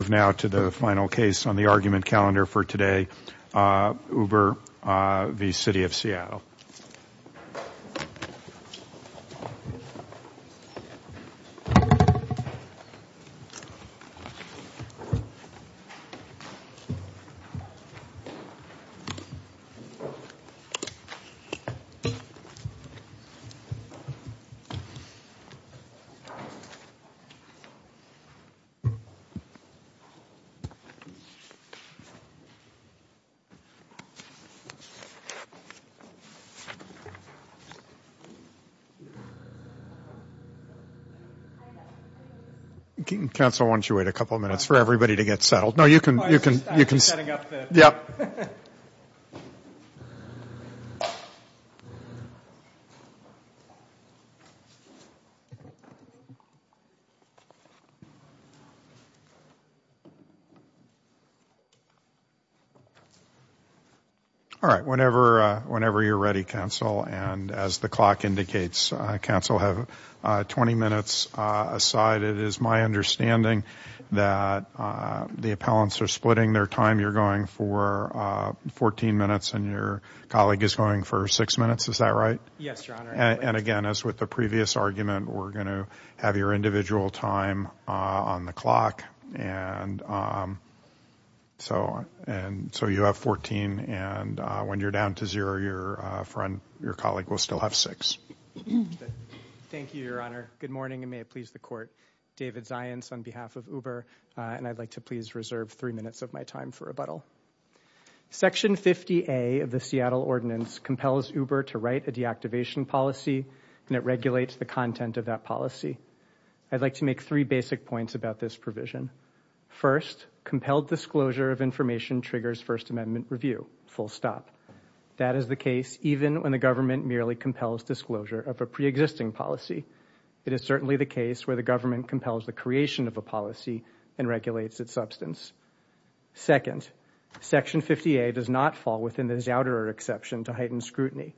Move now to the final case on the argument calendar for today, Uber v. City of Seattle. 1. All right, whenever you're ready, counsel, and as the clock indicates, counsel have 20 minutes aside. It is my understanding that the appellants are splitting their time. You're going for 14 minutes and your colleague is going for six minutes. Is that right? Yes, Your Honor. And again, as with the previous argument, we're going to have your individual time on the clock, and so you have 14, and when you're down to zero, your colleague will still have six. Thank you, Your Honor. Good morning, and may it please the Court. David Zients on behalf of Uber, and I'd like to please reserve three minutes of my time for rebuttal. Section 50A of the Seattle Ordinance compels Uber to write a deactivation policy, and it regulates the content of that policy. I'd like to make three basic points about this provision. First, compelled disclosure of information triggers First Amendment review, full stop. That is the case even when the government merely compels disclosure of a preexisting policy. It is certainly the case where the government compels the creation of a policy and regulates its substance. Second, Section 50A does not fall within the Zouderer exception to heighten scrutiny.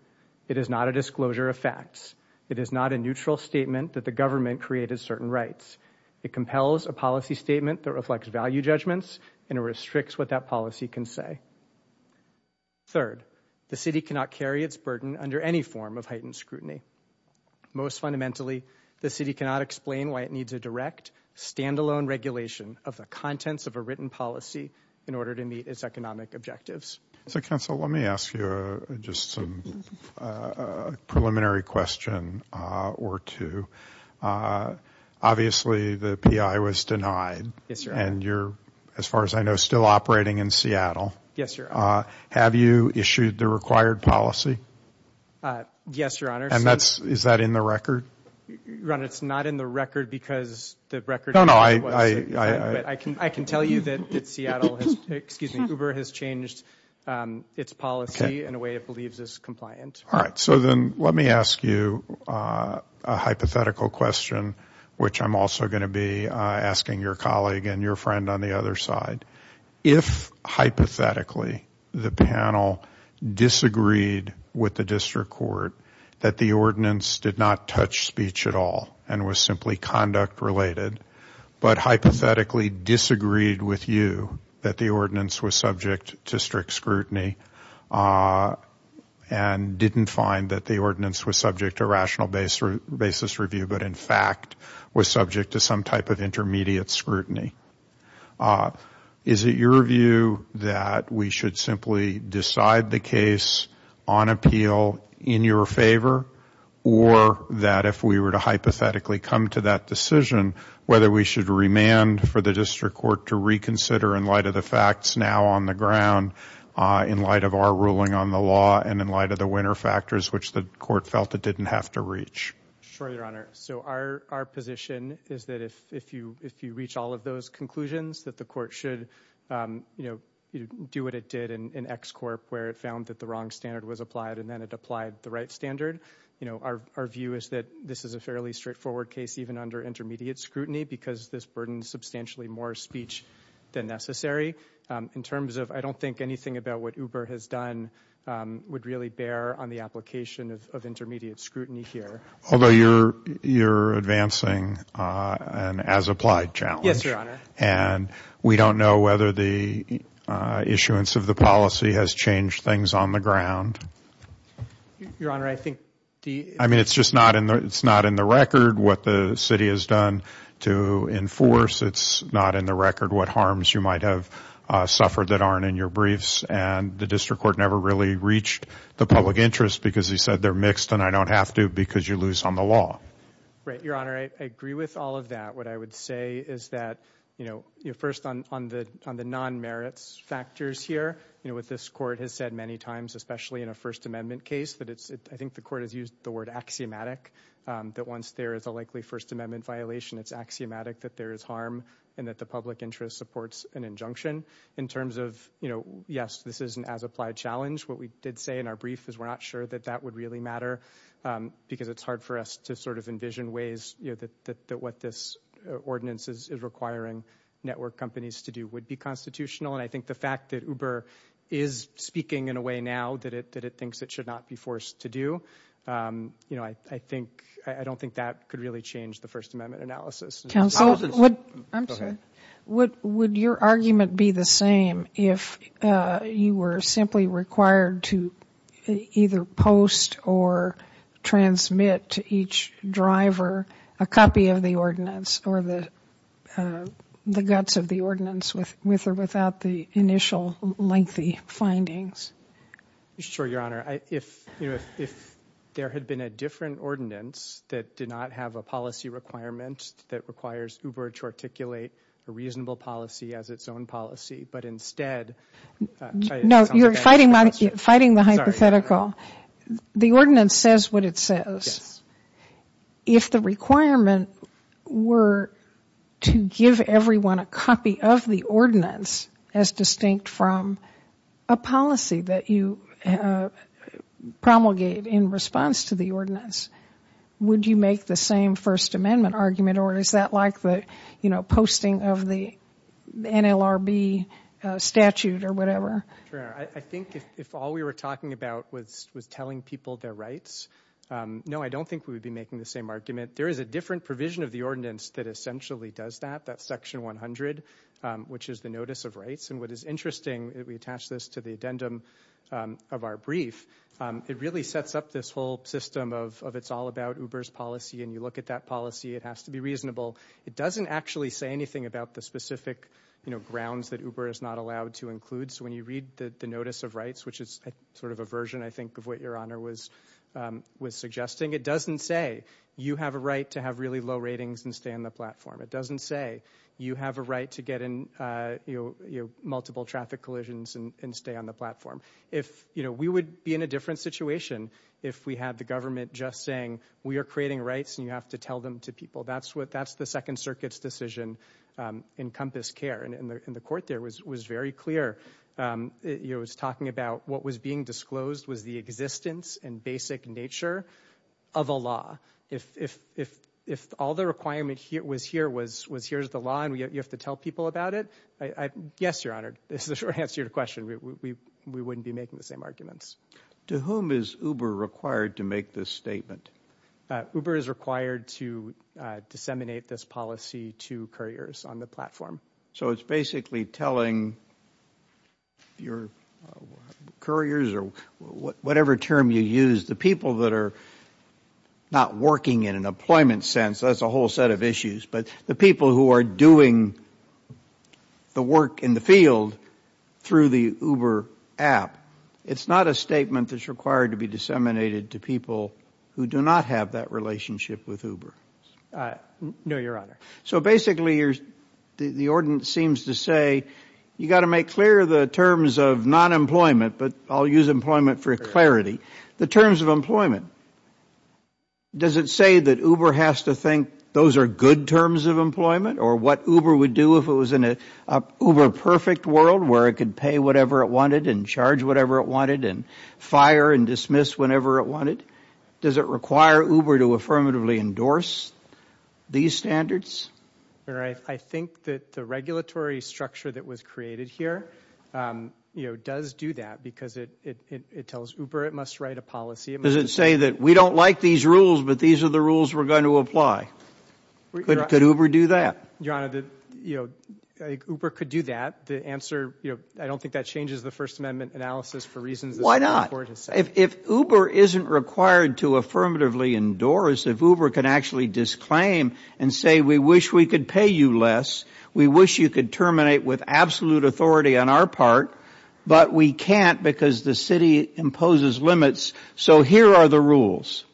It is not a disclosure of facts. It is not a neutral statement that the government created certain rights. It compels a policy statement that reflects value judgments, and it restricts what that policy can say. Third, the city cannot carry its burden under any form of heightened scrutiny. Most fundamentally, the city cannot explain why it needs a direct, standalone regulation of the contents of a written policy in order to meet its economic objectives. So, counsel, let me ask you just some preliminary question or two. Obviously, the PI was denied, and you're, as far as I know, still operating in Seattle. Have you issued the required policy? Yes, Your Honor. And that's, is that in the record? Ron, it's not in the record because the record was... No, no, I... I can tell you that Seattle has, excuse me, Uber has changed its policy in a way it believes is compliant. All right, so then let me ask you a hypothetical question, which I'm also going to be asking your colleague and your friend on the other side. If, hypothetically, the panel disagreed with the district court that the ordinance did not touch speech at all and was simply conduct-related, but hypothetically disagreed with you that the ordinance was subject to strict scrutiny and didn't find that the ordinance was subject to rational basis review, but in fact was subject to some type of intermediate scrutiny, is it your view that we should simply decide the case on appeal in your favor, or that if we were to hypothetically come to that decision, whether we should remand for the district court to reconsider in light of the facts now on the ground, in light of our ruling on the law, and in light of the winner factors, which the court felt it didn't have to reach? Sure, Your Honor. So our position is that if you reach all of those conclusions, that the court should do what it did in X-Corp, where it found that the wrong standard was applied and then it applied the right standard. Our view is that this is a fairly straightforward case, even under intermediate scrutiny, because this burdens substantially more speech than necessary. In terms of, I don't think anything about what Uber has done would really bear on the application of intermediate scrutiny here. Although you're advancing an as-applied challenge. And we don't know whether the issuance of the policy has changed things on the ground. Your Honor, I think the... I mean, it's just not in the record what the city has done to enforce. It's not in the record what harms you might have suffered that aren't in your briefs, and the district court never really reached the public interest because he said they're fixed and I don't have to because you lose on the law. Right, Your Honor, I agree with all of that. What I would say is that, you know, first on the non-merits factors here, you know, what this court has said many times, especially in a First Amendment case, that it's, I think the court has used the word axiomatic, that once there is a likely First Amendment violation, it's axiomatic that there is harm and that the public interest supports an injunction. In terms of, you know, yes, this is an as-applied challenge. What we did say in our brief is we're not sure that that would really matter because it's hard for us to sort of envision ways, you know, that what this ordinance is requiring network companies to do would be constitutional. And I think the fact that Uber is speaking in a way now that it thinks it should not be forced to do, you know, I don't think that could really change the First Amendment analysis. Counsel, I'm sorry. Would your argument be the same if you were simply required to either post or transmit to each driver a copy of the ordinance or the guts of the ordinance with or without the initial lengthy findings? Sure, Your Honor. If, you know, if there had been a different ordinance that did not have a policy requirement that requires Uber to articulate a reasonable policy as its own policy, but instead... No, you're fighting the hypothetical. The ordinance says what it says. If the requirement were to give everyone a copy of the ordinance as distinct from a policy that you promulgate in response to the ordinance, would you make the same First Amendment argument or is that like the, you know, posting of the NLRB statute or whatever? Your Honor, I think if all we were talking about was telling people their rights, no, I don't think we would be making the same argument. There is a different provision of the ordinance that essentially does that. That's Section 100, which is the Notice of Rights. And what is interesting, we attach this to the addendum of our brief, it really sets up this whole system of it's all about Uber's policy. And you look at that policy, it has to be reasonable. It doesn't actually say anything about the specific, you know, grounds that Uber is not allowed to include. So when you read the Notice of Rights, which is sort of a version, I think, of what Your Honor was suggesting, it doesn't say you have a right to have really low ratings and stay on the platform. It doesn't say you have a right to get in, you know, multiple traffic collisions and stay on the platform. If, you know, we would be in a different situation if we had the government just saying we are creating rights and you have to tell them to people. That's what, that's the Second Circuit's decision in Compass Care. And the Court there was very clear, you know, it was talking about what was being disclosed was the existence and basic nature of a law. If all the requirement was here was here's the law and you have to tell people about it, yes, Your Honor, this is a short answer to your question. We wouldn't be making the same arguments. To whom is Uber required to make this statement? Uber is required to disseminate this policy to couriers on the platform. So it's basically telling your couriers or whatever term you use, the people that are not working in an employment sense, that's a whole set of issues, but the people who are doing the work in the field through the Uber app. It's not a statement that's required to be disseminated to people who do not have that relationship with Uber. No, Your Honor. So basically, the Ordinance seems to say you got to make clear the terms of non-employment, but I'll use employment for clarity. The terms of employment. Does it say that Uber has to think those are good terms of employment or what Uber would do if it was in a Uber perfect world where it could pay whatever it wanted and charge whatever it wanted and fire and dismiss whenever it wanted? Does it require Uber to affirmatively endorse these standards? I think that the regulatory structure that was created here does do that because it tells Uber it must write a policy. Does it say that we don't like these rules, but these are the rules we're going to apply? Could Uber do that? Your Honor, Uber could do that. I don't think that changes the First Amendment analysis for reasons. Why not? If Uber isn't required to affirmatively endorse, if Uber can actually disclaim and say we wish we could pay you less, we wish you could terminate with absolute authority on our part, but we can't because the city imposes limits. So here are the rules.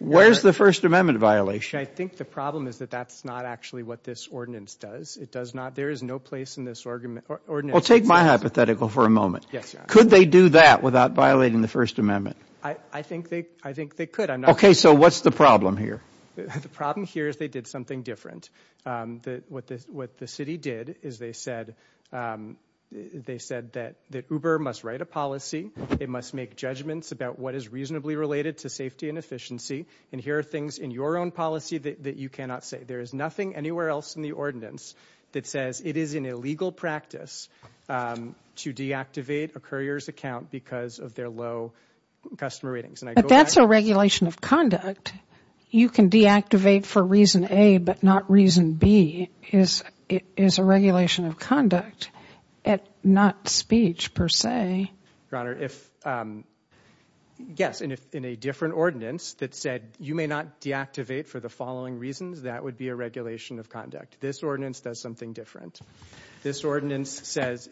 Where's the First Amendment violation? I think the problem is that that's not actually what this Ordinance does. There is no place in this Ordinance. Well, take my hypothetical for a moment. Could they do that without violating the First Amendment? I think they could. Okay, so what's the problem here? The problem here is they did something different. What the city did is they said that Uber must write a policy. It must make judgments about what is reasonably related to safety and efficiency, and here are things in your own policy that you cannot say. There is nothing anywhere else in the Ordinance that says it is an illegal practice to deactivate a courier's account because of their low customer ratings. But that's a regulation of conduct. You can deactivate for reason A, but not reason B is a regulation of conduct, not speech per se. Your Honor, yes, in a different Ordinance that said you may not deactivate for the following reasons, that would be a regulation of conduct. This Ordinance does something different. This Ordinance says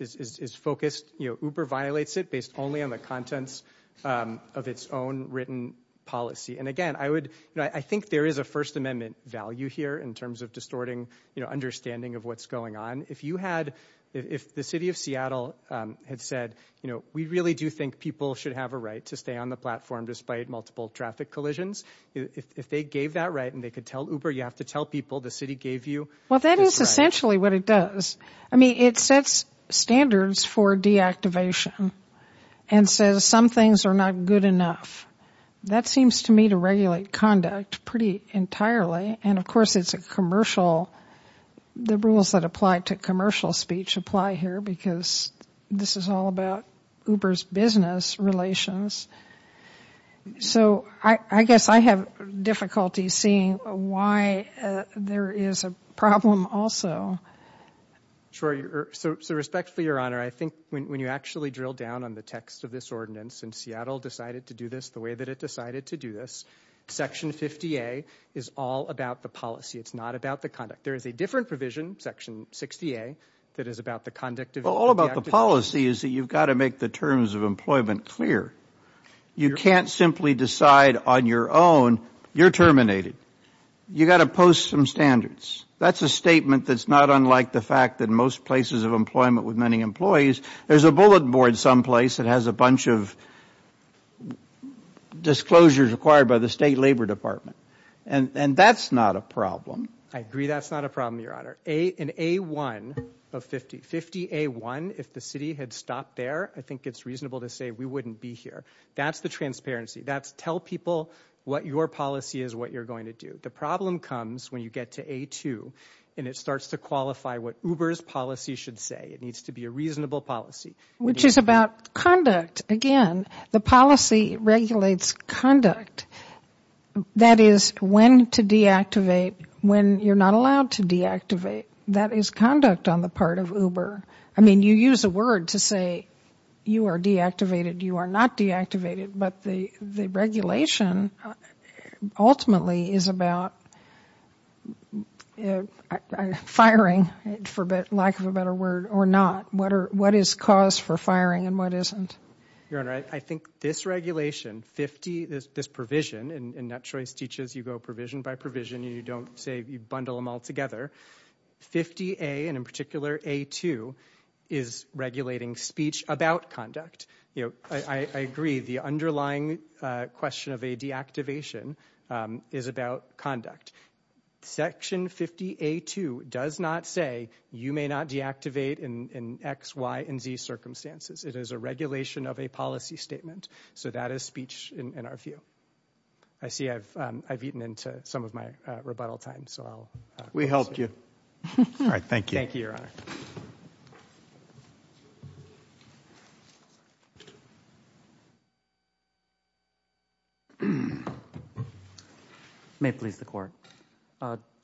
Uber violates it based only on the contents of its own written policy, and again, I think there is a First Amendment value here in terms of distorting understanding of what's going on. If the City of Seattle had said, we really do think people should have a right to stay on the platform despite multiple traffic collisions, if they gave that right and they could tell Uber, you have to tell people the City gave you this right. Well, that is essentially what it does. I mean, it sets standards for deactivation and says some things are not good enough. That seems to me to regulate conduct pretty entirely, and of course it's a commercial, the rules that apply to commercial speech apply here because this is all about Uber's business relations. So, I guess I have difficulty seeing why there is a problem also. Sure, so respectfully, Your Honor, I think when you actually drill down on the text of this Ordinance and Seattle decided to do this the way that it decided to do this, Section 50A is all about the policy. It's not about the conduct. There is a different provision, Section 60A, that is about the conduct of deactivation. Well, all about the policy is that you've got to make the terms of employment clear. You can't simply decide on your own, you're terminated. You've got to post some standards. That's a statement that's not unlike the fact that most places of employment with many employees, there's a bullet board someplace that has a bunch of disclosures required by the State Labor Department, and that's not a problem. I agree that's not a problem, Your Honor. In A1 of 50, 50A1, if the City had stopped there, I think it's reasonable to say we wouldn't be here. That's the transparency. That's tell people what your policy is, what you're going to do. The problem comes when you get to A2, and it starts to qualify what Uber's policy should say. It needs to be a reasonable policy. Which is about conduct. Again, the policy regulates conduct. That is when to deactivate, when you're not allowed to deactivate. That is conduct on the part of Uber. You use a word to say you are deactivated, you are not deactivated, but the regulation ultimately is about firing, for lack of a better word, or not. What is cause for firing and what isn't? Your Honor, I think this regulation, 50, this provision, and NetChoice teaches you go provision by provision, and you don't say you bundle them all together. 50A, and in particular A2, is regulating speech about conduct. I agree, the underlying question of a deactivation is about conduct. Section 50A2 does not say you may not deactivate in X, Y, and Z circumstances. It is a regulation of a policy statement. So that is speech in our view. I see I've eaten into some of my rebuttal time. We helped you. All right, thank you. Thank you, Your Honor. May it please the Court.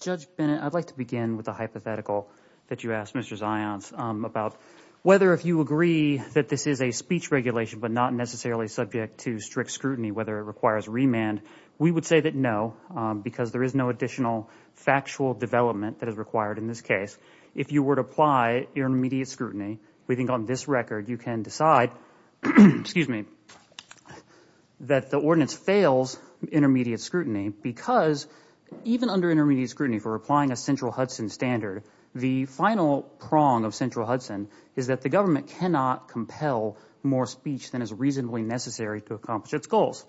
Judge Bennett, I'd like to begin with the hypothetical that you asked Mr. Zions about whether if you agree that this is a speech regulation, but not necessarily subject to strict scrutiny, whether it requires remand. We would say that no, because there is no additional factual development that is required in this case. If you were to apply intermediate scrutiny, we think on this record you can decide that the ordinance fails intermediate scrutiny because even under intermediate scrutiny for applying a central Hudson standard, the final prong of central Hudson is that the government cannot compel more speech than is reasonably necessary to accomplish its goals.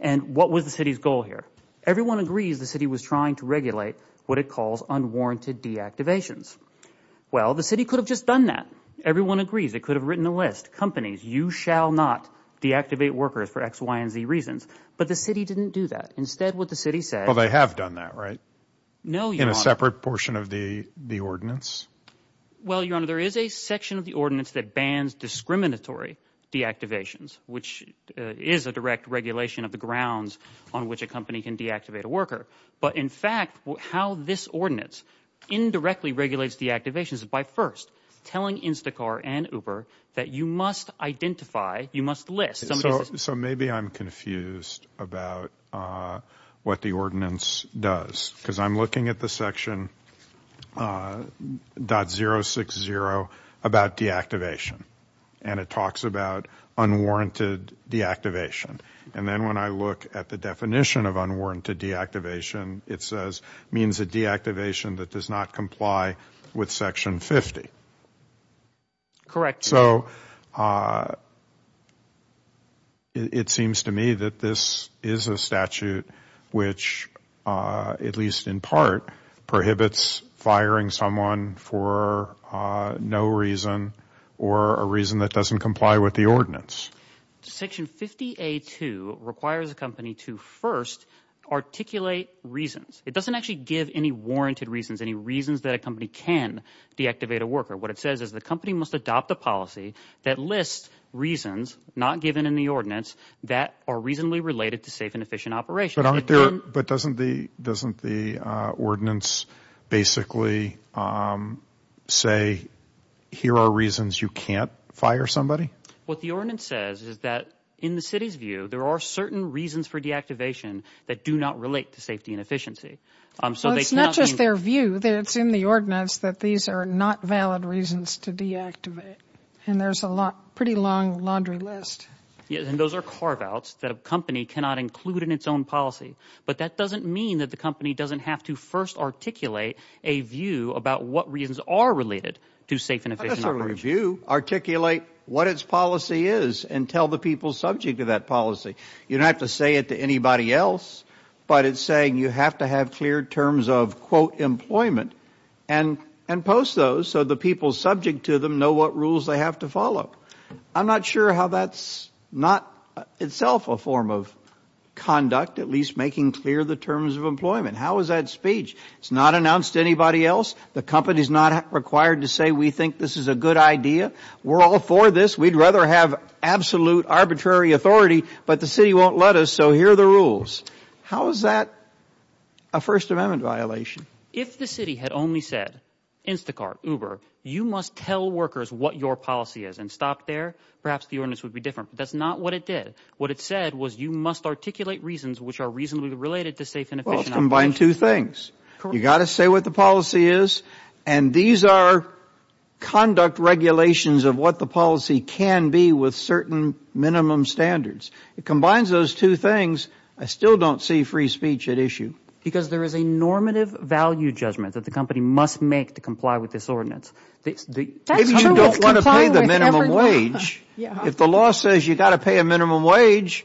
And what was the city's goal here? Everyone agrees the city was trying to regulate what it calls unwarranted deactivations. Well, the city could have just done that. Everyone agrees. It could have written a list. Companies, you shall not deactivate workers for X, Y, and Z reasons. But the city didn't do that. Instead, what the city said. Well, they have done that, right? No, Your Honor. In a separate portion of the ordinance? Well, Your Honor, there is a section of the ordinance that bans discriminatory deactivations, which is a direct regulation of the grounds on which a company can deactivate a worker. But in fact, how this ordinance indirectly regulates deactivations is by first telling Instacar and Uber that you must identify, you must list. So maybe I'm confused about what the ordinance does, because I'm looking at the section .060 about deactivation. And it talks about unwarranted deactivation. And then when I look at the definition of unwarranted deactivation, it says it means a deactivation that does not comply with section 50. Correct. So it seems to me that this is a statute which, at least in part, prohibits firing someone for no reason or a reason that doesn't comply with the ordinance. Section 50A2 requires a company to first articulate reasons. It doesn't actually give any warranted reasons, any reasons that a company can deactivate a worker. What it says is the company must adopt a policy that lists reasons not given in the ordinance that are reasonably related to safe and efficient operations. But doesn't the ordinance basically say, here are reasons you can't fire somebody? What the ordinance says is that in the city's view, there are certain reasons for deactivation that do not relate to safety and efficiency. So it's not just their view that it's in the ordinance that these are not valid reasons to deactivate. And there's a pretty long laundry list. And those are carve-outs that a company cannot include in its own policy. But that doesn't mean that the company doesn't have to first articulate a view about what reasons are related to safe and efficient operations. Not necessarily a view. Articulate what its policy is and tell the people subject to that policy. You don't have to say it to anybody else. But it's saying you have to have clear terms of, quote, employment and post those so the people subject to them know what rules they have to follow. I'm not sure how that's not itself a form of conduct, at least making clear the terms of employment. How is that speech? It's not announced to anybody else. The company is not required to say we think this is a good idea. We're all for this. We'd rather have absolute arbitrary authority. But the city won't let us. So here are the rules. How is that a First Amendment violation? If the city had only said, Instacart, Uber, you must tell workers what your policy is and stop there, perhaps the ordinance would be different. But that's not what it did. What it said was you must articulate reasons which are reasonably related to safe and efficient operations. Well, it's combined two things. You got to say what the policy is. And these are conduct regulations of what the policy can be with certain minimum standards. It combines those two things. I still don't see free speech at issue. Because there is a normative value judgment that the company must make to comply with this ordinance. If you don't want to pay the minimum wage, if the law says you've got to pay a minimum wage,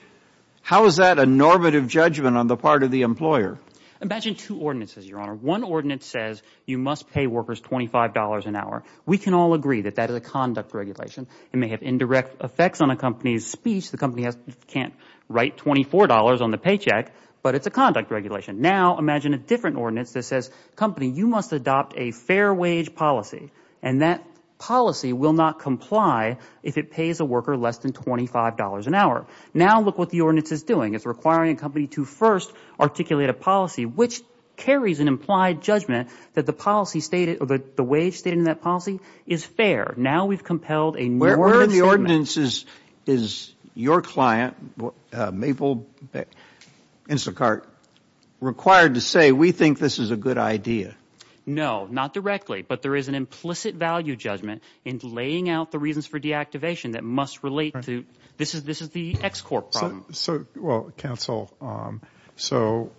how is that a normative judgment on the part of the employer? Imagine two ordinances, Your Honor. One ordinance says you must pay workers $25 an hour. We can all agree that that is a conduct regulation. It may have indirect effects on a company's speech. The company can't write $24 on the paycheck. But it's a conduct regulation. Now, imagine a different ordinance that says, company, you must adopt a fair wage policy. And that policy will not comply if it pays a worker less than $25 an hour. Now, look what the ordinance is doing. It's requiring a company to first articulate a policy which carries an implied judgment that the wage stated in that policy is fair. Now, we've compelled a normative statement. Is your client, Mabel Instacart, required to say, we think this is a good idea? No, not directly. But there is an implicit value judgment in laying out the reasons for deactivation that must relate to, this is the ex-corp problem. So, well, counsel, so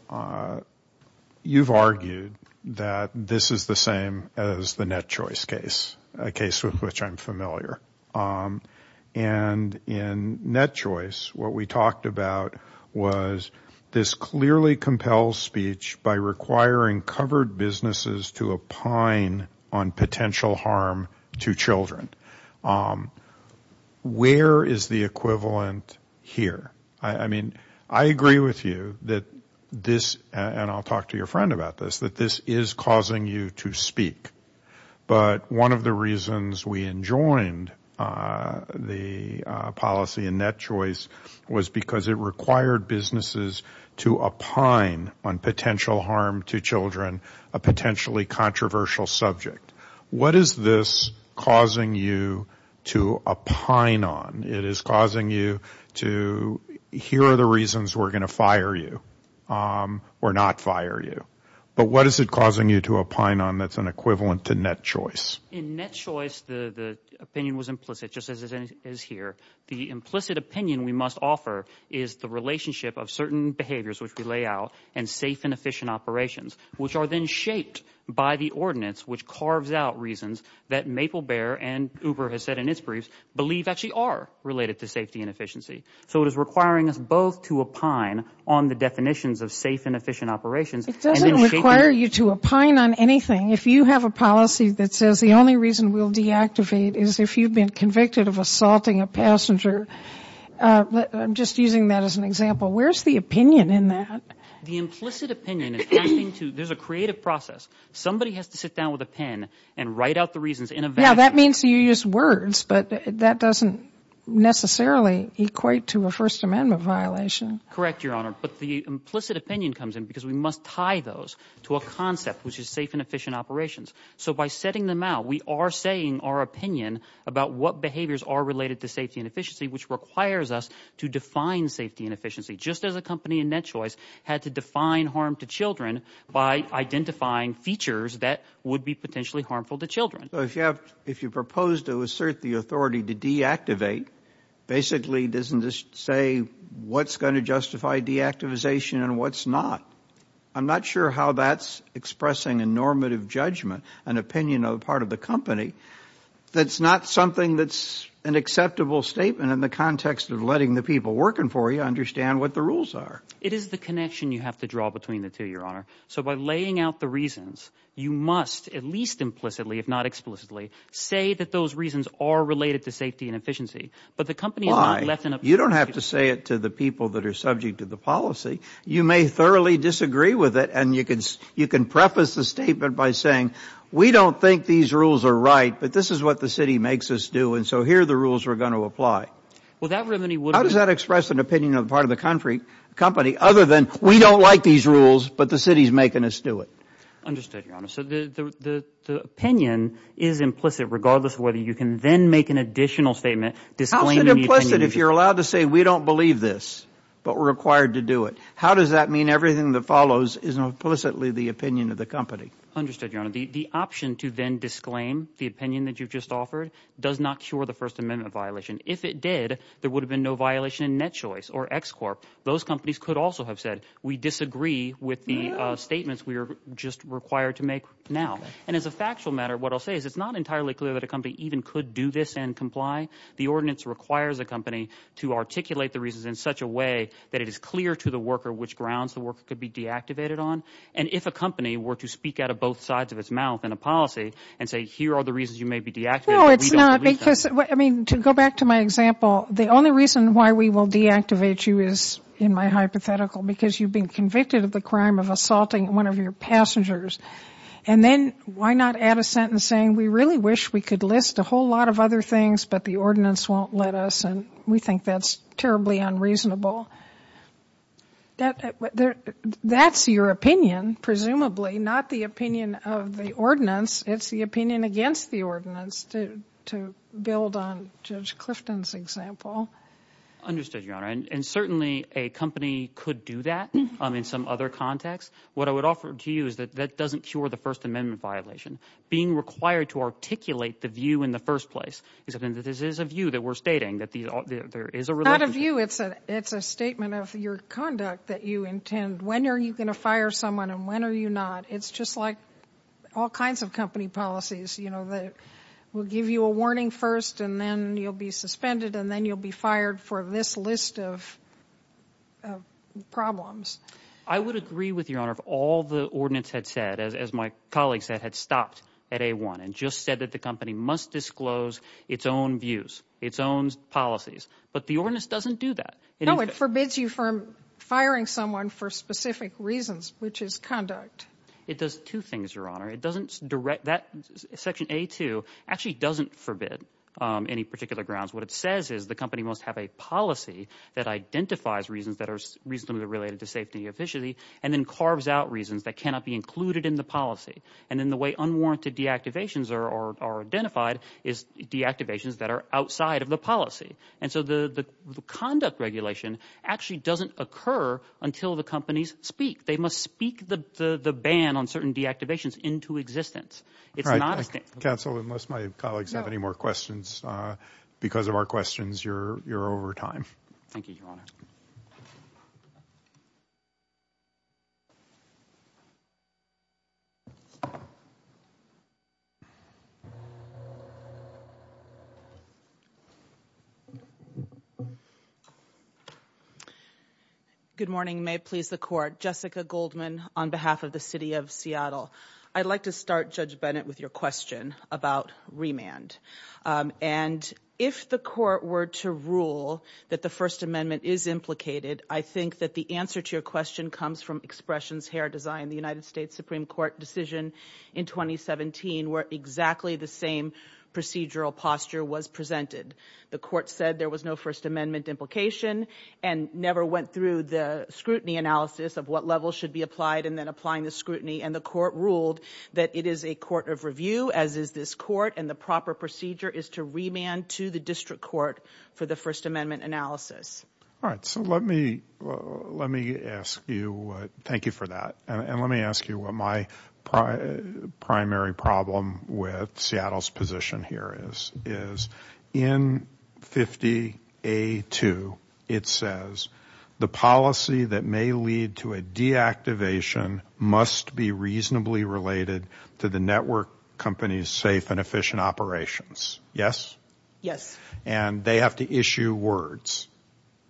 you've argued that this is the same as the Net Choice case, a case with which I'm familiar. And in Net Choice, what we talked about was this clearly compelled speech by requiring covered businesses to opine on potential harm to children. Where is the equivalent here? I mean, I agree with you that this, and I'll talk to your friend about this, that this is causing you to speak. But one of the reasons we enjoined the policy in Net Choice was because it required businesses to opine on potential harm to children, a potentially controversial subject. What is this causing you to opine on? It is causing you to, here are the reasons we're going to fire you or not fire you. But what is it causing you to opine on that's an equivalent to Net Choice? In Net Choice, the opinion was implicit, just as it is here. The implicit opinion we must offer is the relationship of certain behaviors, which we lay out, and safe and efficient operations, which are then shaped by the ordinance, which carves out reasons that MapleBear and Uber has said in its briefs believe actually are related to safety and efficiency. So it is requiring us both to opine on the definitions of safe and efficient operations. It doesn't require you to opine on anything. If you have a policy that says the only reason we'll deactivate is if you've been convicted of assaulting a passenger. I'm just using that as an example. Where's the opinion in that? The implicit opinion is pointing to, there's a creative process. Somebody has to sit down with a pen and write out the reasons in advance. Yeah, that means you use words, but that doesn't necessarily equate to a First Amendment violation. Correct, Your Honor. But the implicit opinion comes in because we must tie those to a concept, which is safe and efficient operations. So by setting them out, we are saying our opinion about what behaviors are related to safety and efficiency, which requires us to define safety and efficiency, just as a company in Net Choice had to define harm to children by identifying features that would be potentially harmful to children. If you propose to assert the authority to deactivate, basically doesn't this say what's going to justify deactivation and what's not? I'm not sure how that's expressing a normative judgment, an opinion of the part of the company that's not something that's an acceptable statement in the context of letting the people working for you understand what the rules are. It is the connection you have to draw between the two, Your Honor. So by laying out the reasons, you must, at least implicitly, if not explicitly, say that those reasons are related to safety and efficiency. But the company has not left enough- subject to the policy. You may thoroughly disagree with it. And you can preface the statement by saying, we don't think these rules are right, but this is what the city makes us do. And so here are the rules we're going to apply. Well, that remedy would- How does that express an opinion of the part of the company other than, we don't like these rules, but the city's making us do it? Understood, Your Honor. So the opinion is implicit, regardless of whether you can then make an additional statement disclaiming- How is it implicit if you're allowed to say we don't believe this? But we're required to do it. How does that mean everything that follows is implicitly the opinion of the company? Understood, Your Honor. The option to then disclaim the opinion that you've just offered does not cure the First Amendment violation. If it did, there would have been no violation in NetChoice or ExCorp. Those companies could also have said, we disagree with the statements we are just required to make now. And as a factual matter, what I'll say is it's not entirely clear that a company even could do this and comply. The ordinance requires a company to articulate the reasons in such a way that it is clear to the worker which grounds the worker could be deactivated on. And if a company were to speak out of both sides of its mouth in a policy and say, here are the reasons you may be deactivated- Well, it's not because- I mean, to go back to my example, the only reason why we will deactivate you is, in my hypothetical, because you've been convicted of the crime of assaulting one of your passengers. And then why not add a sentence saying, we really wish we could list a whole lot of other things, but the ordinance won't let us. And we think that's terribly unreasonable. That's your opinion, presumably, not the opinion of the ordinance. It's the opinion against the ordinance, to build on Judge Clifton's example. Understood, Your Honor. And certainly, a company could do that in some other context. What I would offer to you is that that doesn't cure the First Amendment violation. Being required to articulate the view in the first place, is something that this is a view that we're stating, that there is a- It's not a view, it's a statement of your conduct that you intend. When are you going to fire someone, and when are you not? It's just like all kinds of company policies, you know, that will give you a warning first, and then you'll be suspended, and then you'll be fired for this list of problems. I would agree with you, Your Honor. All the ordinance had said, as my colleague said, had stopped at A-1, and just said that the company must disclose its own views, its own policies. But the ordinance doesn't do that. No, it forbids you from firing someone for specific reasons, which is conduct. It does two things, Your Honor. Section A-2 actually doesn't forbid any particular grounds. What it says is the company must have a policy that identifies reasons that are related to safety and efficiency, and then carves out reasons that cannot be included in the policy. And then the way unwarranted deactivations are identified is deactivations that are outside of the policy. And so the conduct regulation actually doesn't occur until the companies speak. They must speak the ban on certain deactivations into existence. It's not a- Counsel, unless my colleagues have any more questions, because of our questions, you're over time. Thank you, Your Honor. Thank you, Your Honor. Good morning. May it please the Court. Jessica Goldman on behalf of the City of Seattle. I'd like to start, Judge Bennett, with your question about remand. And if the Court were to rule that the First Amendment is implicated, I think that the answer to your question comes from Expressions Hair Design, the United States Supreme Court decision in 2017, where exactly the same procedural posture was presented. The Court said there was no First Amendment implication and never went through the scrutiny analysis of what level should be applied and then applying the scrutiny. And the Court ruled that it is a court of review, as is this Court, and the proper procedure is to remand to the District Court for the First Amendment analysis. All right. So let me ask you, thank you for that. And let me ask you what my primary problem with Seattle's position here is. Is in 50A2, it says the policy that may lead to a deactivation must be reasonably related to the network company's safe and efficient operations. Yes? Yes. And they have to issue words.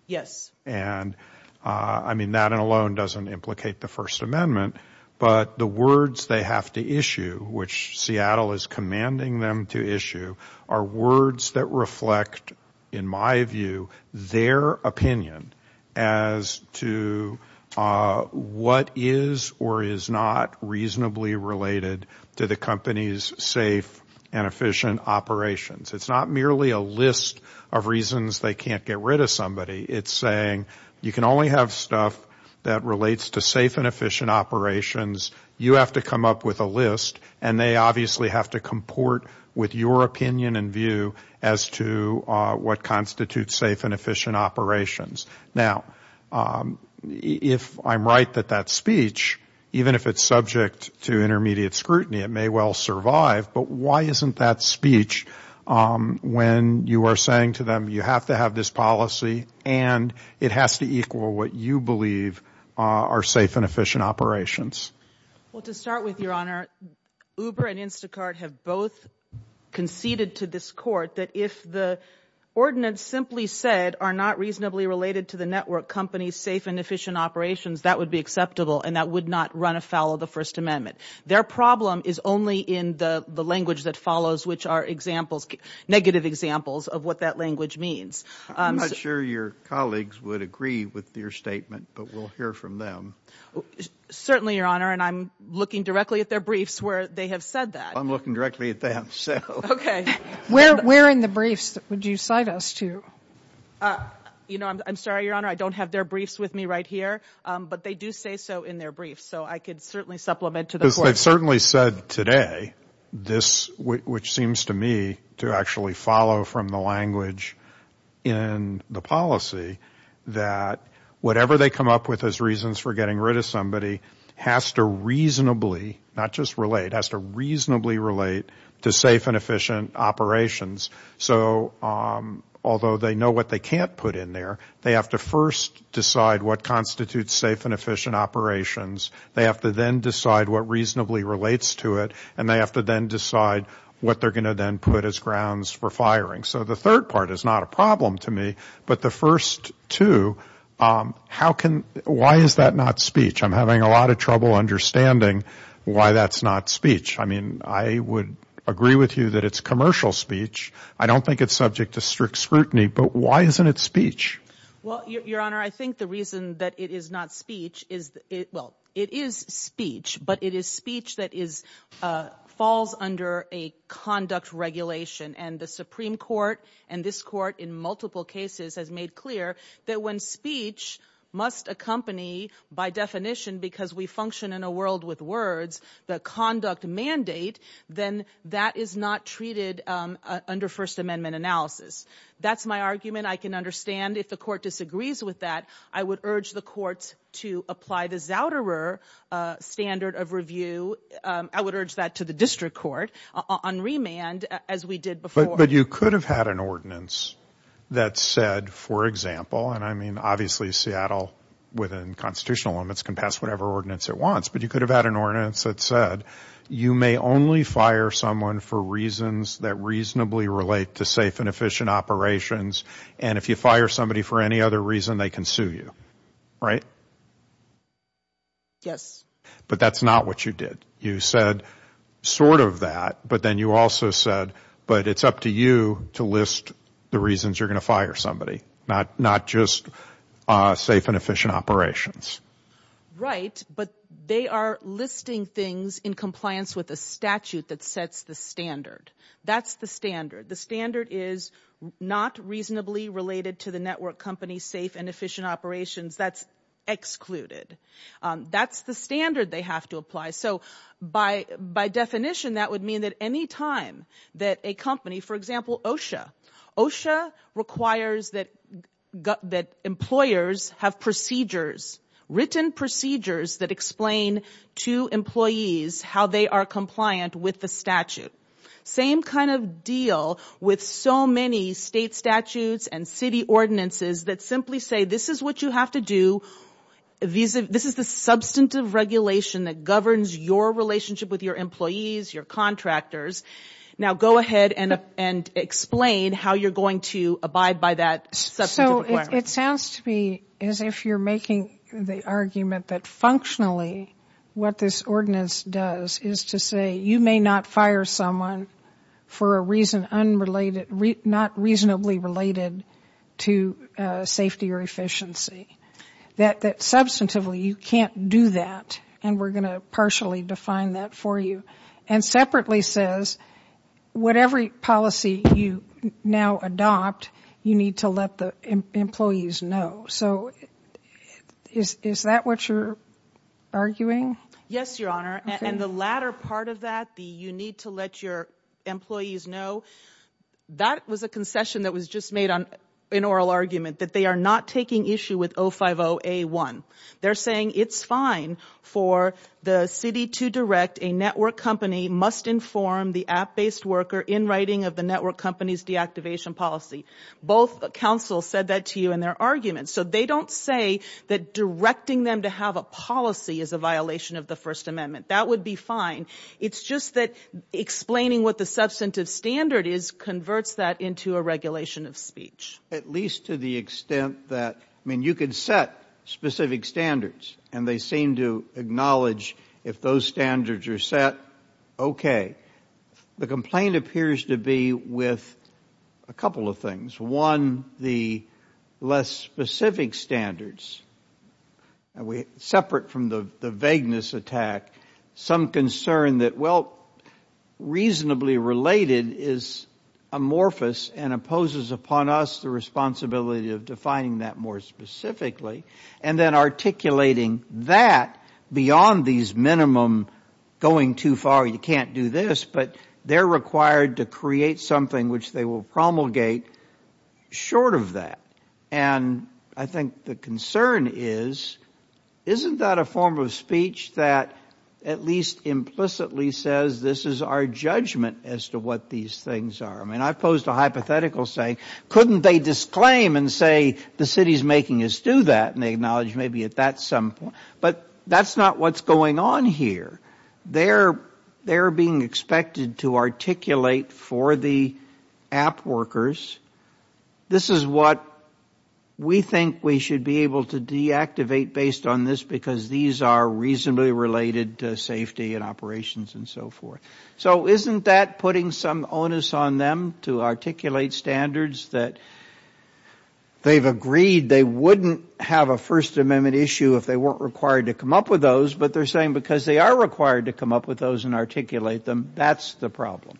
Yes. And I mean, that alone doesn't implicate the First Amendment, but the words they have to issue, which Seattle is commanding them to issue, are words that reflect, in my view, their opinion as to what is or is not reasonably related to the company's safe and efficient operations. It's not merely a list of reasons they can't get rid of somebody. It's saying you can only have stuff that relates to safe and efficient operations. You have to come up with a list. And they obviously have to comport with your opinion and view as to what constitutes safe and efficient operations. Now, if I'm right that that speech, even if it's subject to intermediate scrutiny, it may well survive. But why isn't that speech when you are saying to them you have to have this policy and it has to equal what you believe are safe and efficient operations? Well, to start with, Your Honor, Uber and Instacart have both conceded to this court that if the ordinance simply said are not reasonably related to the network company's safe and efficient operations, that would be acceptable. And that would not run afoul of the First Amendment. Their problem is only in the language that follows, which are examples, negative examples of what that language means. I'm not sure your colleagues would agree with your statement, but we'll hear from them. Certainly, Your Honor. And I'm looking directly at their briefs where they have said that. I'm looking directly at them, so. OK. Where in the briefs would you cite us to? You know, I'm sorry, Your Honor. I don't have their briefs with me right here. But they do say so in their briefs. I could certainly supplement to the court. They've certainly said today, which seems to me to actually follow from the language in the policy, that whatever they come up with as reasons for getting rid of somebody has to reasonably, not just relate, has to reasonably relate to safe and efficient operations. Although they know what they can't put in there, they have to first decide what constitutes safe and efficient operations. They have to then decide what reasonably relates to it. And they have to then decide what they're going to then put as grounds for firing. So the third part is not a problem to me. But the first two, how can, why is that not speech? I'm having a lot of trouble understanding why that's not speech. I mean, I would agree with you that it's commercial speech. I don't think it's subject to strict scrutiny. But why isn't it speech? Well, Your Honor, I think the reason that it is not speech is, well, it is speech. But it is speech that is, falls under a conduct regulation. And the Supreme Court and this court in multiple cases has made clear that when speech must accompany, by definition, because we function in a world with words, the conduct mandate, then that is not treated under First Amendment analysis. That's my argument. I can understand if the court disagrees with that. I would urge the courts to apply the Zouderer standard of review. I would urge that to the district court on remand, as we did before. But you could have had an ordinance that said, for example, and I mean, obviously, Seattle within constitutional limits can pass whatever ordinance it wants. But you could have had an ordinance that said, you may only fire someone for reasons that reasonably relate to safe and efficient operations. And if you fire somebody for any other reason, they can sue you. Right? Yes. But that's not what you did. You said sort of that. But then you also said, but it's up to you to list the reasons you're going to fire somebody, not just safe and efficient operations. Right. But they are listing things in compliance with a statute that sets the standard. That's the standard. The standard is not reasonably related to the network company safe and efficient operations. That's excluded. That's the standard they have to apply. So by definition, that would mean that any time that a company, for example, OSHA. OSHA requires that employers have procedures, written procedures that explain to employees how they are compliant with the statute. Same kind of deal with so many state statutes and city ordinances that simply say, this is what you have to do. This is the substantive regulation that governs your relationship with your employees, your contractors. Now go ahead and explain how you're going to abide by that. So it sounds to me as if you're making the argument that functionally, what this ordinance does is to say, you may not fire someone for a reason not reasonably related to safety or efficiency. That substantively, you can't do that. And we're going to partially define that for you. And separately says, whatever policy you now adopt, you need to let the employees know. So is that what you're arguing? Yes, Your Honor. And the latter part of that, the you need to let your employees know, that was a concession that was just made on an oral argument, that they are not taking issue with 050A1. They're saying it's fine for the city to direct a network company must inform the app-based worker in writing of the network company's deactivation policy. Both councils said that to you in their arguments. So they don't say that directing them to have a policy is a violation of the First Amendment. That would be fine. It's just that explaining what the substantive standard is converts that into a regulation of speech. At least to the extent that, I mean, you could set specific standards and they seem to acknowledge if those standards are set, okay. The complaint appears to be with a couple of things. One, the less specific standards. Separate from the vagueness attack, some concern that, well, reasonably related is amorphous and opposes upon us the responsibility of defining that more specifically. And then articulating that beyond these minimum going too far, you can't do this, but they're required to create something which they will promulgate short of that. And I think the concern is, isn't that a form of speech that at least implicitly says this is our judgment as to what these things are? I mean, I've posed a hypothetical saying, couldn't they disclaim and say the city's making us do that? And they acknowledge maybe at that some point, but that's not what's going on here. They're being expected to articulate for the app workers, this is what we think we should be able to deactivate based on this because these are reasonably related to safety and operations and so forth. So isn't that putting some onus on them to articulate standards that they've agreed they wouldn't have a First Amendment issue if they weren't required to come up with those, but they're saying because they are required to come up with those and articulate them, that's the problem.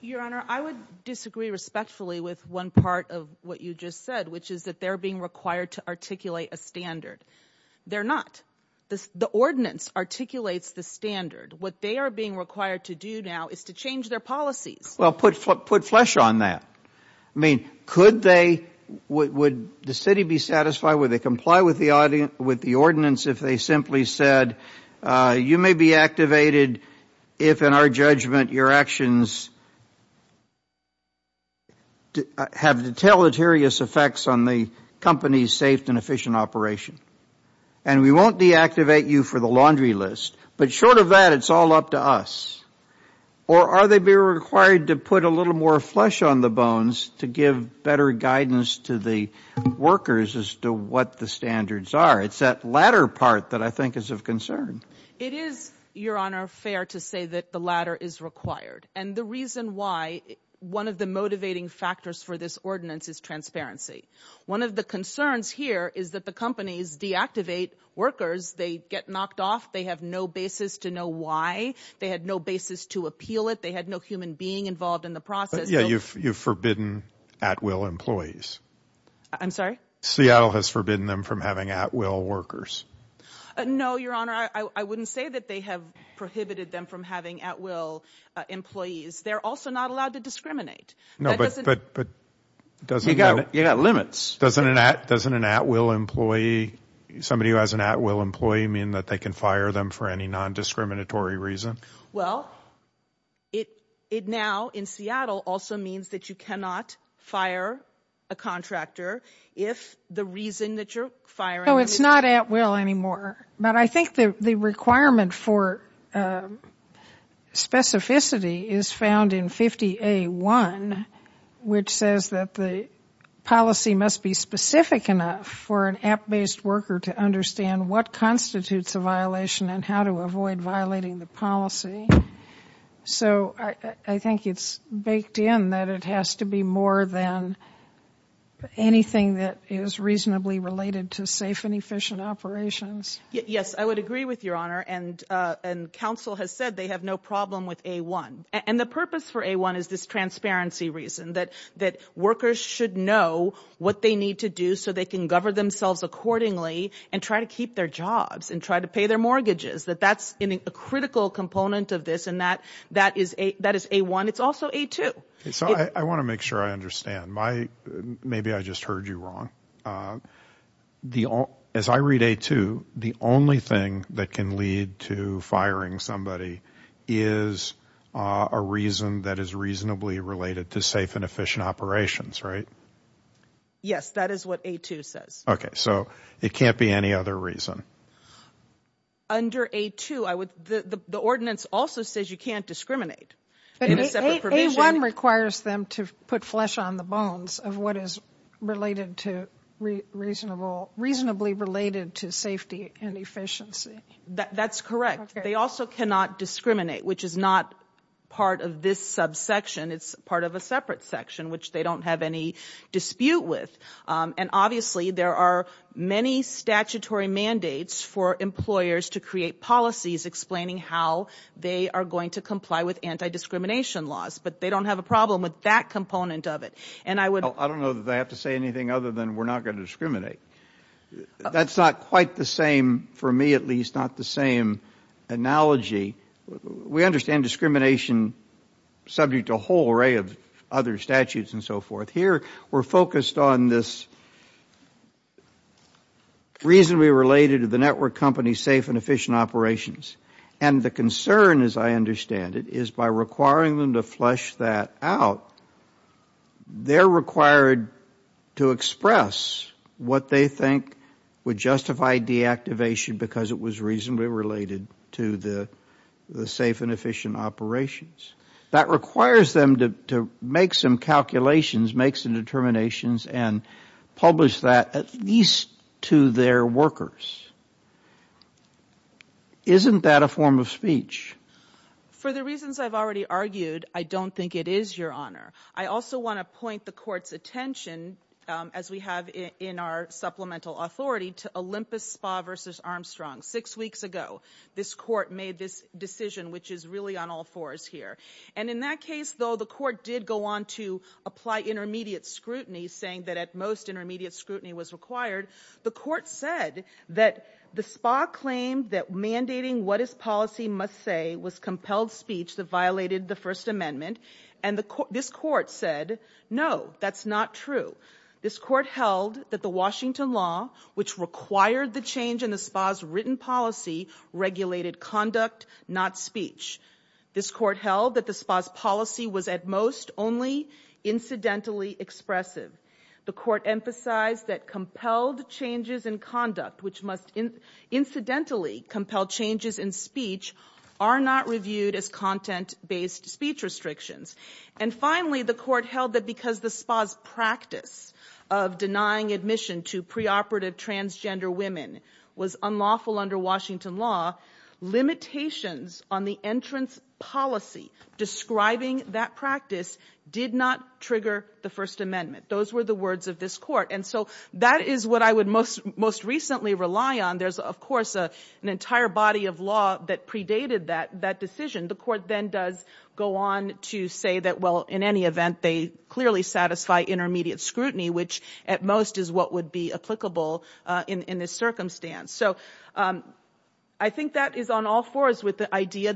Your Honor, I would disagree respectfully with one part of what you just said, which is that they're being required to articulate a standard. They're not. The ordinance articulates the standard. What they are being required to do now is to change their policies. Well, put flesh on that. I mean, could they, would the city be satisfied, would they comply with the ordinance if they simply said you may be activated if, in our judgment, your actions have deteleterious effects on the company's safe and efficient operation? And we won't deactivate you for the laundry list, but short of that, it's all up to us. Or are they being required to put a little more flesh on the bones to give better guidance to the workers as to what the standards are? It's that latter part that I think is of concern. It is, your Honor, fair to say that the latter is required. And the reason why, one of the motivating factors for this ordinance is transparency. One of the concerns here is that the companies deactivate workers. They get knocked off. They have no basis to know why. They had no basis to appeal it. They had no human being involved in the process. Yeah, you've forbidden at-will employees. I'm sorry? Seattle has forbidden them from having at-will workers. No, your Honor, I wouldn't say that they have prohibited them from having at-will employees. They're also not allowed to discriminate. No, but doesn't... You got limits. Doesn't an at-will employee, somebody who has an at-will employee, mean that they can fire them for any non-discriminatory reason? Well, it now in Seattle also means that you cannot fire a contractor if the reason that you're firing... No, it's not at-will anymore. But I think the requirement for specificity is found in 50A1, which says that the policy must be specific enough for an app-based worker to understand what constitutes a violation and how to avoid violating the policy. So I think it's baked in that it has to be more than anything that is reasonably related to safe and efficient operations. Yes, I would agree with your Honor, and counsel has said they have no problem with A1. And the purpose for A1 is this transparency reason that workers should know what they need to do so they can govern themselves accordingly and try to keep their jobs and try to pay their mortgages. That that's a critical component of this, and that is A1. It's also A2. So I want to make sure I understand. Maybe I just heard you wrong. As I read A2, the only thing that can lead to firing somebody is a reason that is reasonably related to safe and efficient operations, right? Yes, that is what A2 says. Okay, so it can't be any other reason? Under A2, the ordinance also says you can't discriminate. A1 requires them to put flesh on the bones of what is reasonably related to safety and efficiency. That's correct. They also cannot discriminate, which is not part of this subsection. It's part of a separate section, which they don't have any dispute with. And obviously, there are many statutory mandates for employers to create policies explaining how they are going to comply with anti-discrimination laws, but they don't have a problem with that component of it. And I would... I don't know that I have to say anything other than we're not going to discriminate. That's not quite the same, for me at least, not the same analogy. We understand discrimination subject to a whole array of other statutes and so forth. Here, we're focused on this reasonably related to the network company's safe and efficient operations. And the concern, as I understand it, is by requiring them to flesh that out, they're required to express what they think would justify deactivation because it was reasonably related to the safe and efficient operations. That requires them to make some calculations, make some determinations, and publish that at least to their workers. Isn't that a form of speech? For the reasons I've already argued, I don't think it is, Your Honor. I also want to point the Court's attention, as we have in our supplemental authority, to Olympus Spa v. Armstrong. Six weeks ago, this Court made this decision, which is really on all fours here. In that case, though, the Court did go on to apply intermediate scrutiny, saying that, at most, intermediate scrutiny was required. The Court said that the Spa claimed that mandating what its policy must say was compelled speech that violated the First Amendment, and this Court said, no, that's not true. This Court held that the Washington law, which required the change in the Spa's written policy, regulated conduct, not speech. This Court held that the Spa's policy was, at most, only incidentally expressive. The Court emphasized that compelled changes in conduct, which must incidentally compel changes in speech, are not reviewed as content-based speech restrictions. And finally, the Court held that because the Spa's practice of denying admission to preoperative transgender women was unlawful under Washington law, limitations on the entrance policy describing that practice did not trigger the First Amendment. Those were the words of this Court. And so that is what I would most recently rely on. There's, of course, an entire body of law that predated that decision. The Court then does go on to say that, well, in any event, they clearly satisfy intermediate scrutiny, which, at most, is what would be applicable in this circumstance. So I think that is on all fours with the idea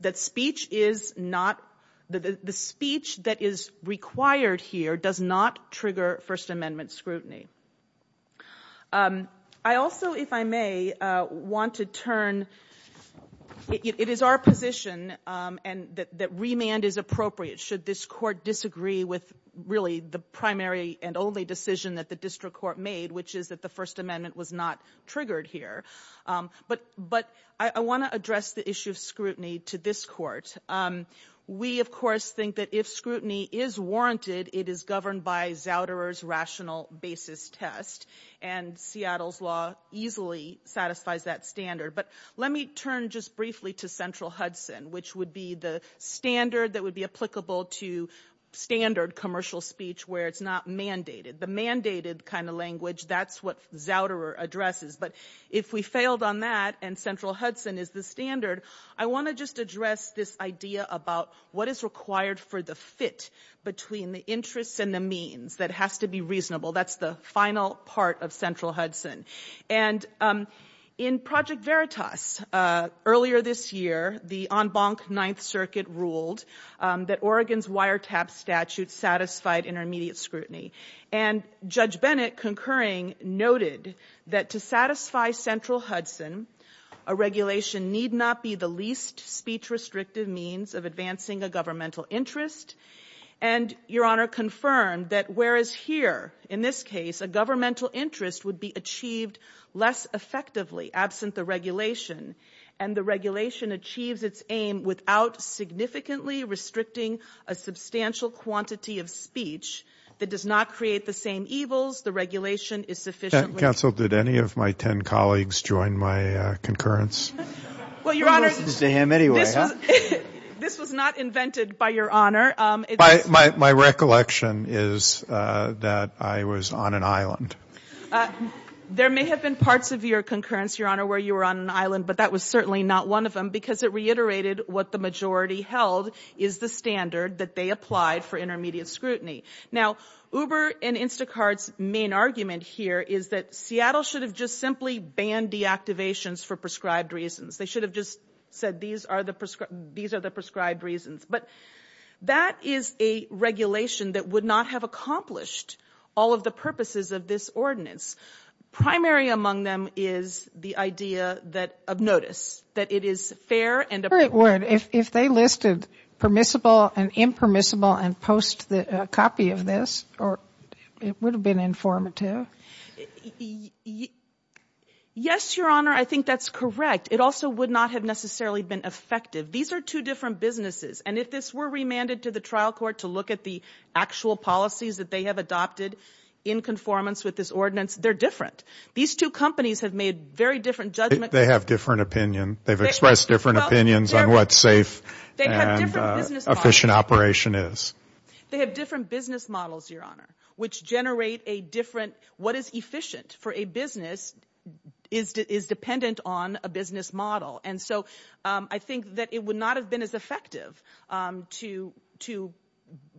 that speech is not — the speech that is required here does not trigger First Amendment scrutiny. I also, if I may, want to turn — it is our position that remand is appropriate should this Court disagree with, really, the primary and only decision that the district court made, which is that the First Amendment was not triggered here. But I want to address the issue of scrutiny to this Court. We, of course, think that if scrutiny is warranted, it is governed by Zouderer's rational basis test. And Seattle's law easily satisfies that standard. But let me turn just briefly to central Hudson, which would be the standard that would be applicable to standard commercial speech where it's not mandated. The mandated kind of language, that's what Zouderer addresses. But if we failed on that and central Hudson is the standard, I want to just address this idea about what is required for the fit between the interests and the means that has to be reasonable. That's the final part of central Hudson. And in Project Veritas, earlier this year, the en banc Ninth Circuit ruled that Oregon's wiretap statute satisfied intermediate scrutiny. And Judge Bennett, concurring, noted that to satisfy central Hudson, a regulation need not be the least speech-restrictive means of advancing a governmental interest. And Your Honor confirmed that whereas here, in this case, a governmental interest would be achieved less effectively absent the regulation, and the regulation achieves its aim without significantly restricting a substantial quantity of speech that does not create the same evils, the regulation is sufficiently... Counsel, did any of my 10 colleagues join my concurrence? Well, Your Honor, this was not invented by Your Honor. My recollection is that I was on an island. There may have been parts of your concurrence, Your Honor, where you were on an island, but that was certainly not one of them because it reiterated what the majority held is the standard that they applied for intermediate scrutiny. Now, Uber and Instacart's main argument here is that Seattle should have just simply banned deactivations for prescribed reasons. They should have just said, these are the prescribed reasons. But that is a regulation that would not have accomplished all of the purposes of this ordinance. Primary among them is the idea that of notice, that it is fair and... Or it would, if they listed permissible and impermissible and post a copy of this, it would have been informative. Yes, Your Honor, I think that's correct. It also would not have necessarily been effective. These are two different businesses. And if this were remanded to the trial court to look at the actual policies that they have adopted in conformance with this ordinance, they're different. These two companies have made very different judgment... They have different opinion. They've expressed different opinions on what's safe and efficient operation is. They have different business models, Your Honor, which generate a different... What is efficient for a business is dependent on a business model. And so I think that it would not have been as effective to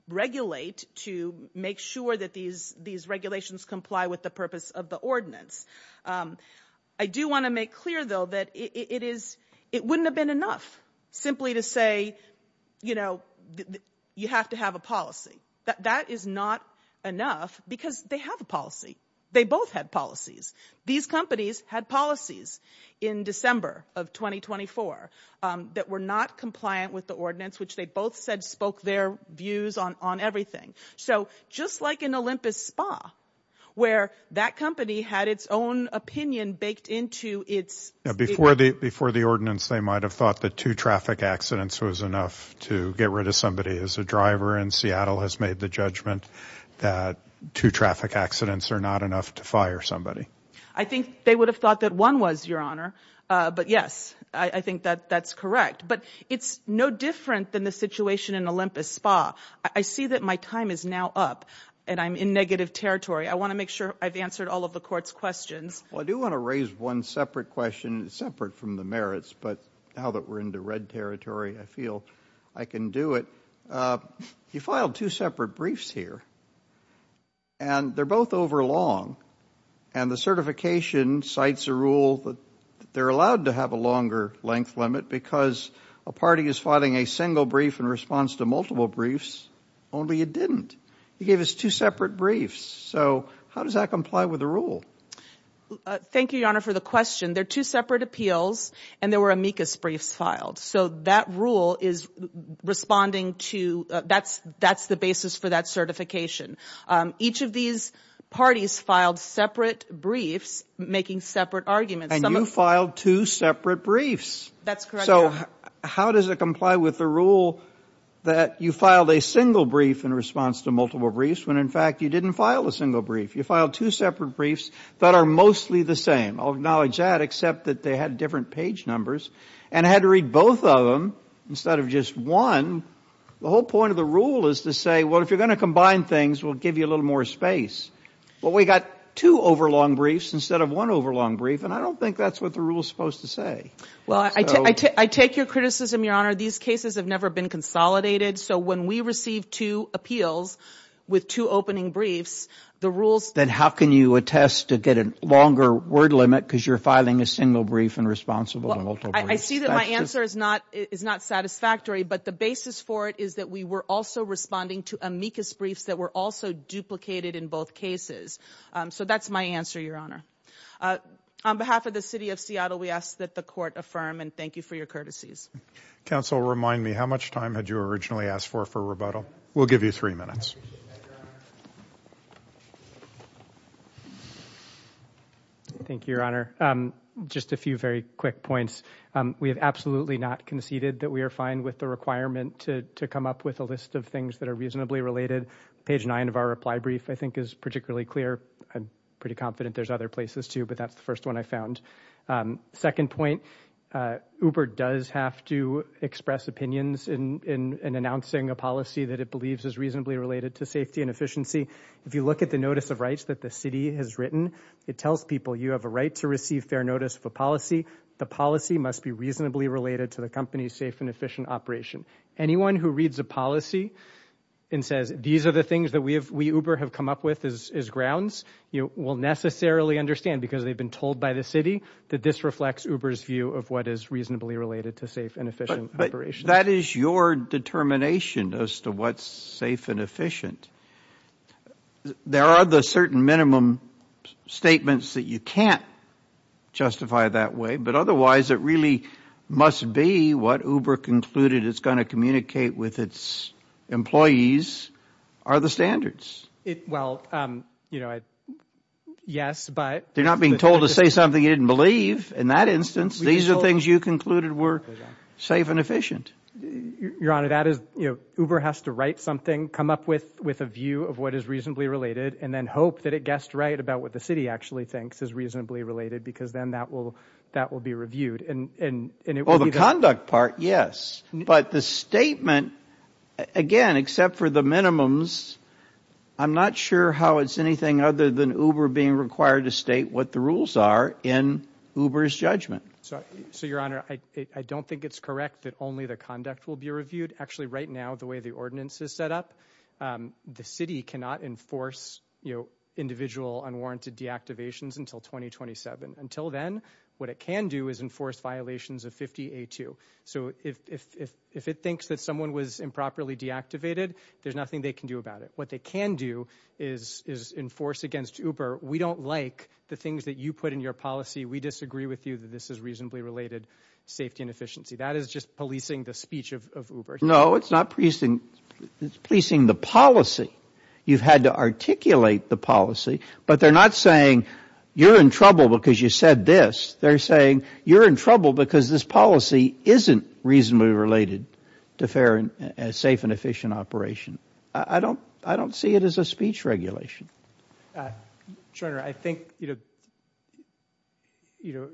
regulate, to make sure that these regulations comply with the purpose of the ordinance. I do wanna make clear though, that it wouldn't have been enough simply to say, you have to have a policy. That is not enough because they have a policy. They both had policies. These companies had policies in December of 2024 that were not compliant with the ordinance, which they both said spoke their views on everything. So just like an Olympus spa, where that company had its own opinion baked into its... Before the ordinance, they might've thought that two traffic accidents was enough to get rid of somebody. As a driver in Seattle has made the judgment that two traffic accidents are not enough to fire somebody. I think they would have thought that one was, Your Honor. But yes, I think that that's correct. But it's no different than the situation in Olympus spa. I see that my time is now up and I'm in negative territory. I wanna make sure I've answered all of the court's questions. Well, I do wanna raise one separate question, separate from the merits, but now that we're into red territory, I feel I can do it. You filed two separate briefs here and they're both overlong. And the certification cites a rule that they're allowed to have a longer length limit because a party is filing a single brief in response to multiple briefs, only it didn't. You gave us two separate briefs. So how does that comply with the rule? Thank you, Your Honor, for the question. They're two separate appeals and there were amicus briefs filed. So that rule is responding to, that's the basis for that certification. Each of these parties filed separate briefs, making separate arguments. And you filed two separate briefs. That's correct, Your Honor. So how does it comply with the rule that you filed a single brief in response to multiple briefs, when in fact you didn't file a single brief. You filed two separate briefs that are mostly the same. I'll acknowledge that, except that they had different page numbers. And I had to read both of them instead of just one. The whole point of the rule is to say, well, if you're going to combine things, we'll give you a little more space. Well, we got two overlong briefs instead of one overlong brief. And I don't think that's what the rule is supposed to say. Well, I take your criticism, Your Honor. These cases have never been consolidated. So when we receive two appeals with two opening briefs, the rules... Then how can you attest to get a longer word limit because you're filing a single brief and responsible to multiple briefs? I see that my answer is not satisfactory, but the basis for it is that we were also responding to amicus briefs that were also duplicated in both cases. So that's my answer, Your Honor. On behalf of the city of Seattle, we ask that the court affirm and thank you for your courtesies. Counsel, remind me, how much time had you originally asked for for rebuttal? We'll give you three minutes. Thank you, Your Honor. Just a few very quick points. We have absolutely not conceded that we are fine with the requirement to come up with a list of things that are reasonably related. Page nine of our reply brief, I think is particularly clear. I'm pretty confident there's other places too, but that's the first one I found. Second point, Uber does have to express opinions in announcing a policy that it believes is reasonably related to safety and efficiency. If you look at the notice of rights that the city has written, it tells people you have a right to receive fair notice of a policy. The policy must be reasonably related to the company's safe and efficient operation. Anyone who reads a policy and says, these are the things that we Uber have come up with as grounds, will necessarily understand because they've been told by the city that this reflects Uber's view of what is reasonably related to safe and efficient operation. That is your determination as to what's safe and efficient. There are the certain minimum statements that you can't justify that way, but otherwise it really must be what Uber concluded it's going to communicate with its employees are the standards. Well, you know, yes, but... They're not being told to say something you didn't believe. In that instance, these are things you concluded were safe and efficient. Your Honor, that is, you know, Uber has to write something, come up with a view of what is reasonably related and then hope that it guessed right about what the city actually thinks is reasonably related because then that will be reviewed. Well, the conduct part, yes. But the statement, again, except for the minimums, I'm not sure how it's anything other than Uber being required to state what the rules are in Uber's judgment. So, Your Honor, I don't think it's correct that only the conduct will be reviewed. Actually, right now, the way the ordinance is set up, the city cannot enforce, you know, individual unwarranted deactivations until 2027. Until then, what it can do is enforce violations of 50A2. So if it thinks that someone was improperly deactivated, there's nothing they can do about it. What they can do is enforce against Uber, we don't like the things that you put in your policy. We disagree with you that this is reasonably related safety and efficiency. That is just policing the speech of Uber. No, it's not policing. It's policing the policy. You've had to articulate the policy, but they're not saying you're in trouble because you said this. They're saying you're in trouble because this policy isn't reasonably related to fair and safe and efficient operation. I don't see it as a speech regulation. Your Honor, I think, you know, you know,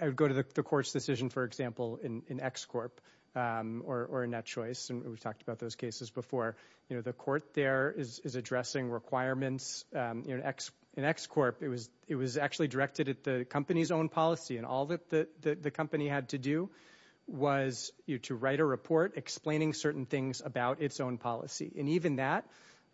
I would go to the court's decision, for example, in ExCorp or NetChoice, and we've talked about those cases before. You know, the court there is addressing requirements. In ExCorp, it was actually directed at the company's own policy, and all that the company had to do was to write a report explaining certain things about its own policy. And even that,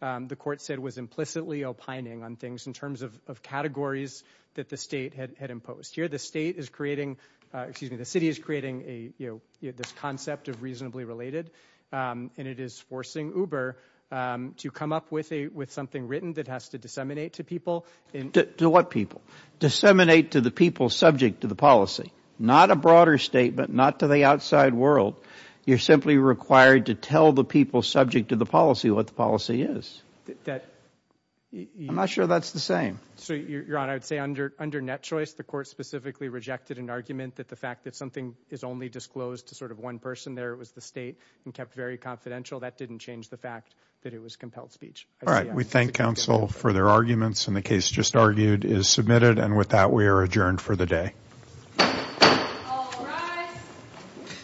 the court said, was implicitly opining on things in terms of categories that the state had imposed. Here, the state is creating, excuse me, the city is creating a, you know, this concept of reasonably related, and it is forcing Uber to come up with something written that has to disseminate to people. To what people? Disseminate to the people subject to the policy, not a broader statement, not to the outside world. You're simply required to tell the people subject to the policy what the policy is. I'm not sure that's the same. So, Your Honor, I would say under NetChoice, the court specifically rejected an argument that the fact that something is only disclosed to sort of one person there, it was the state, and kept very confidential. That didn't change the fact that it was compelled speech. All right, we thank counsel for their arguments, and the case just argued is submitted. And with that, we are adjourned for the day.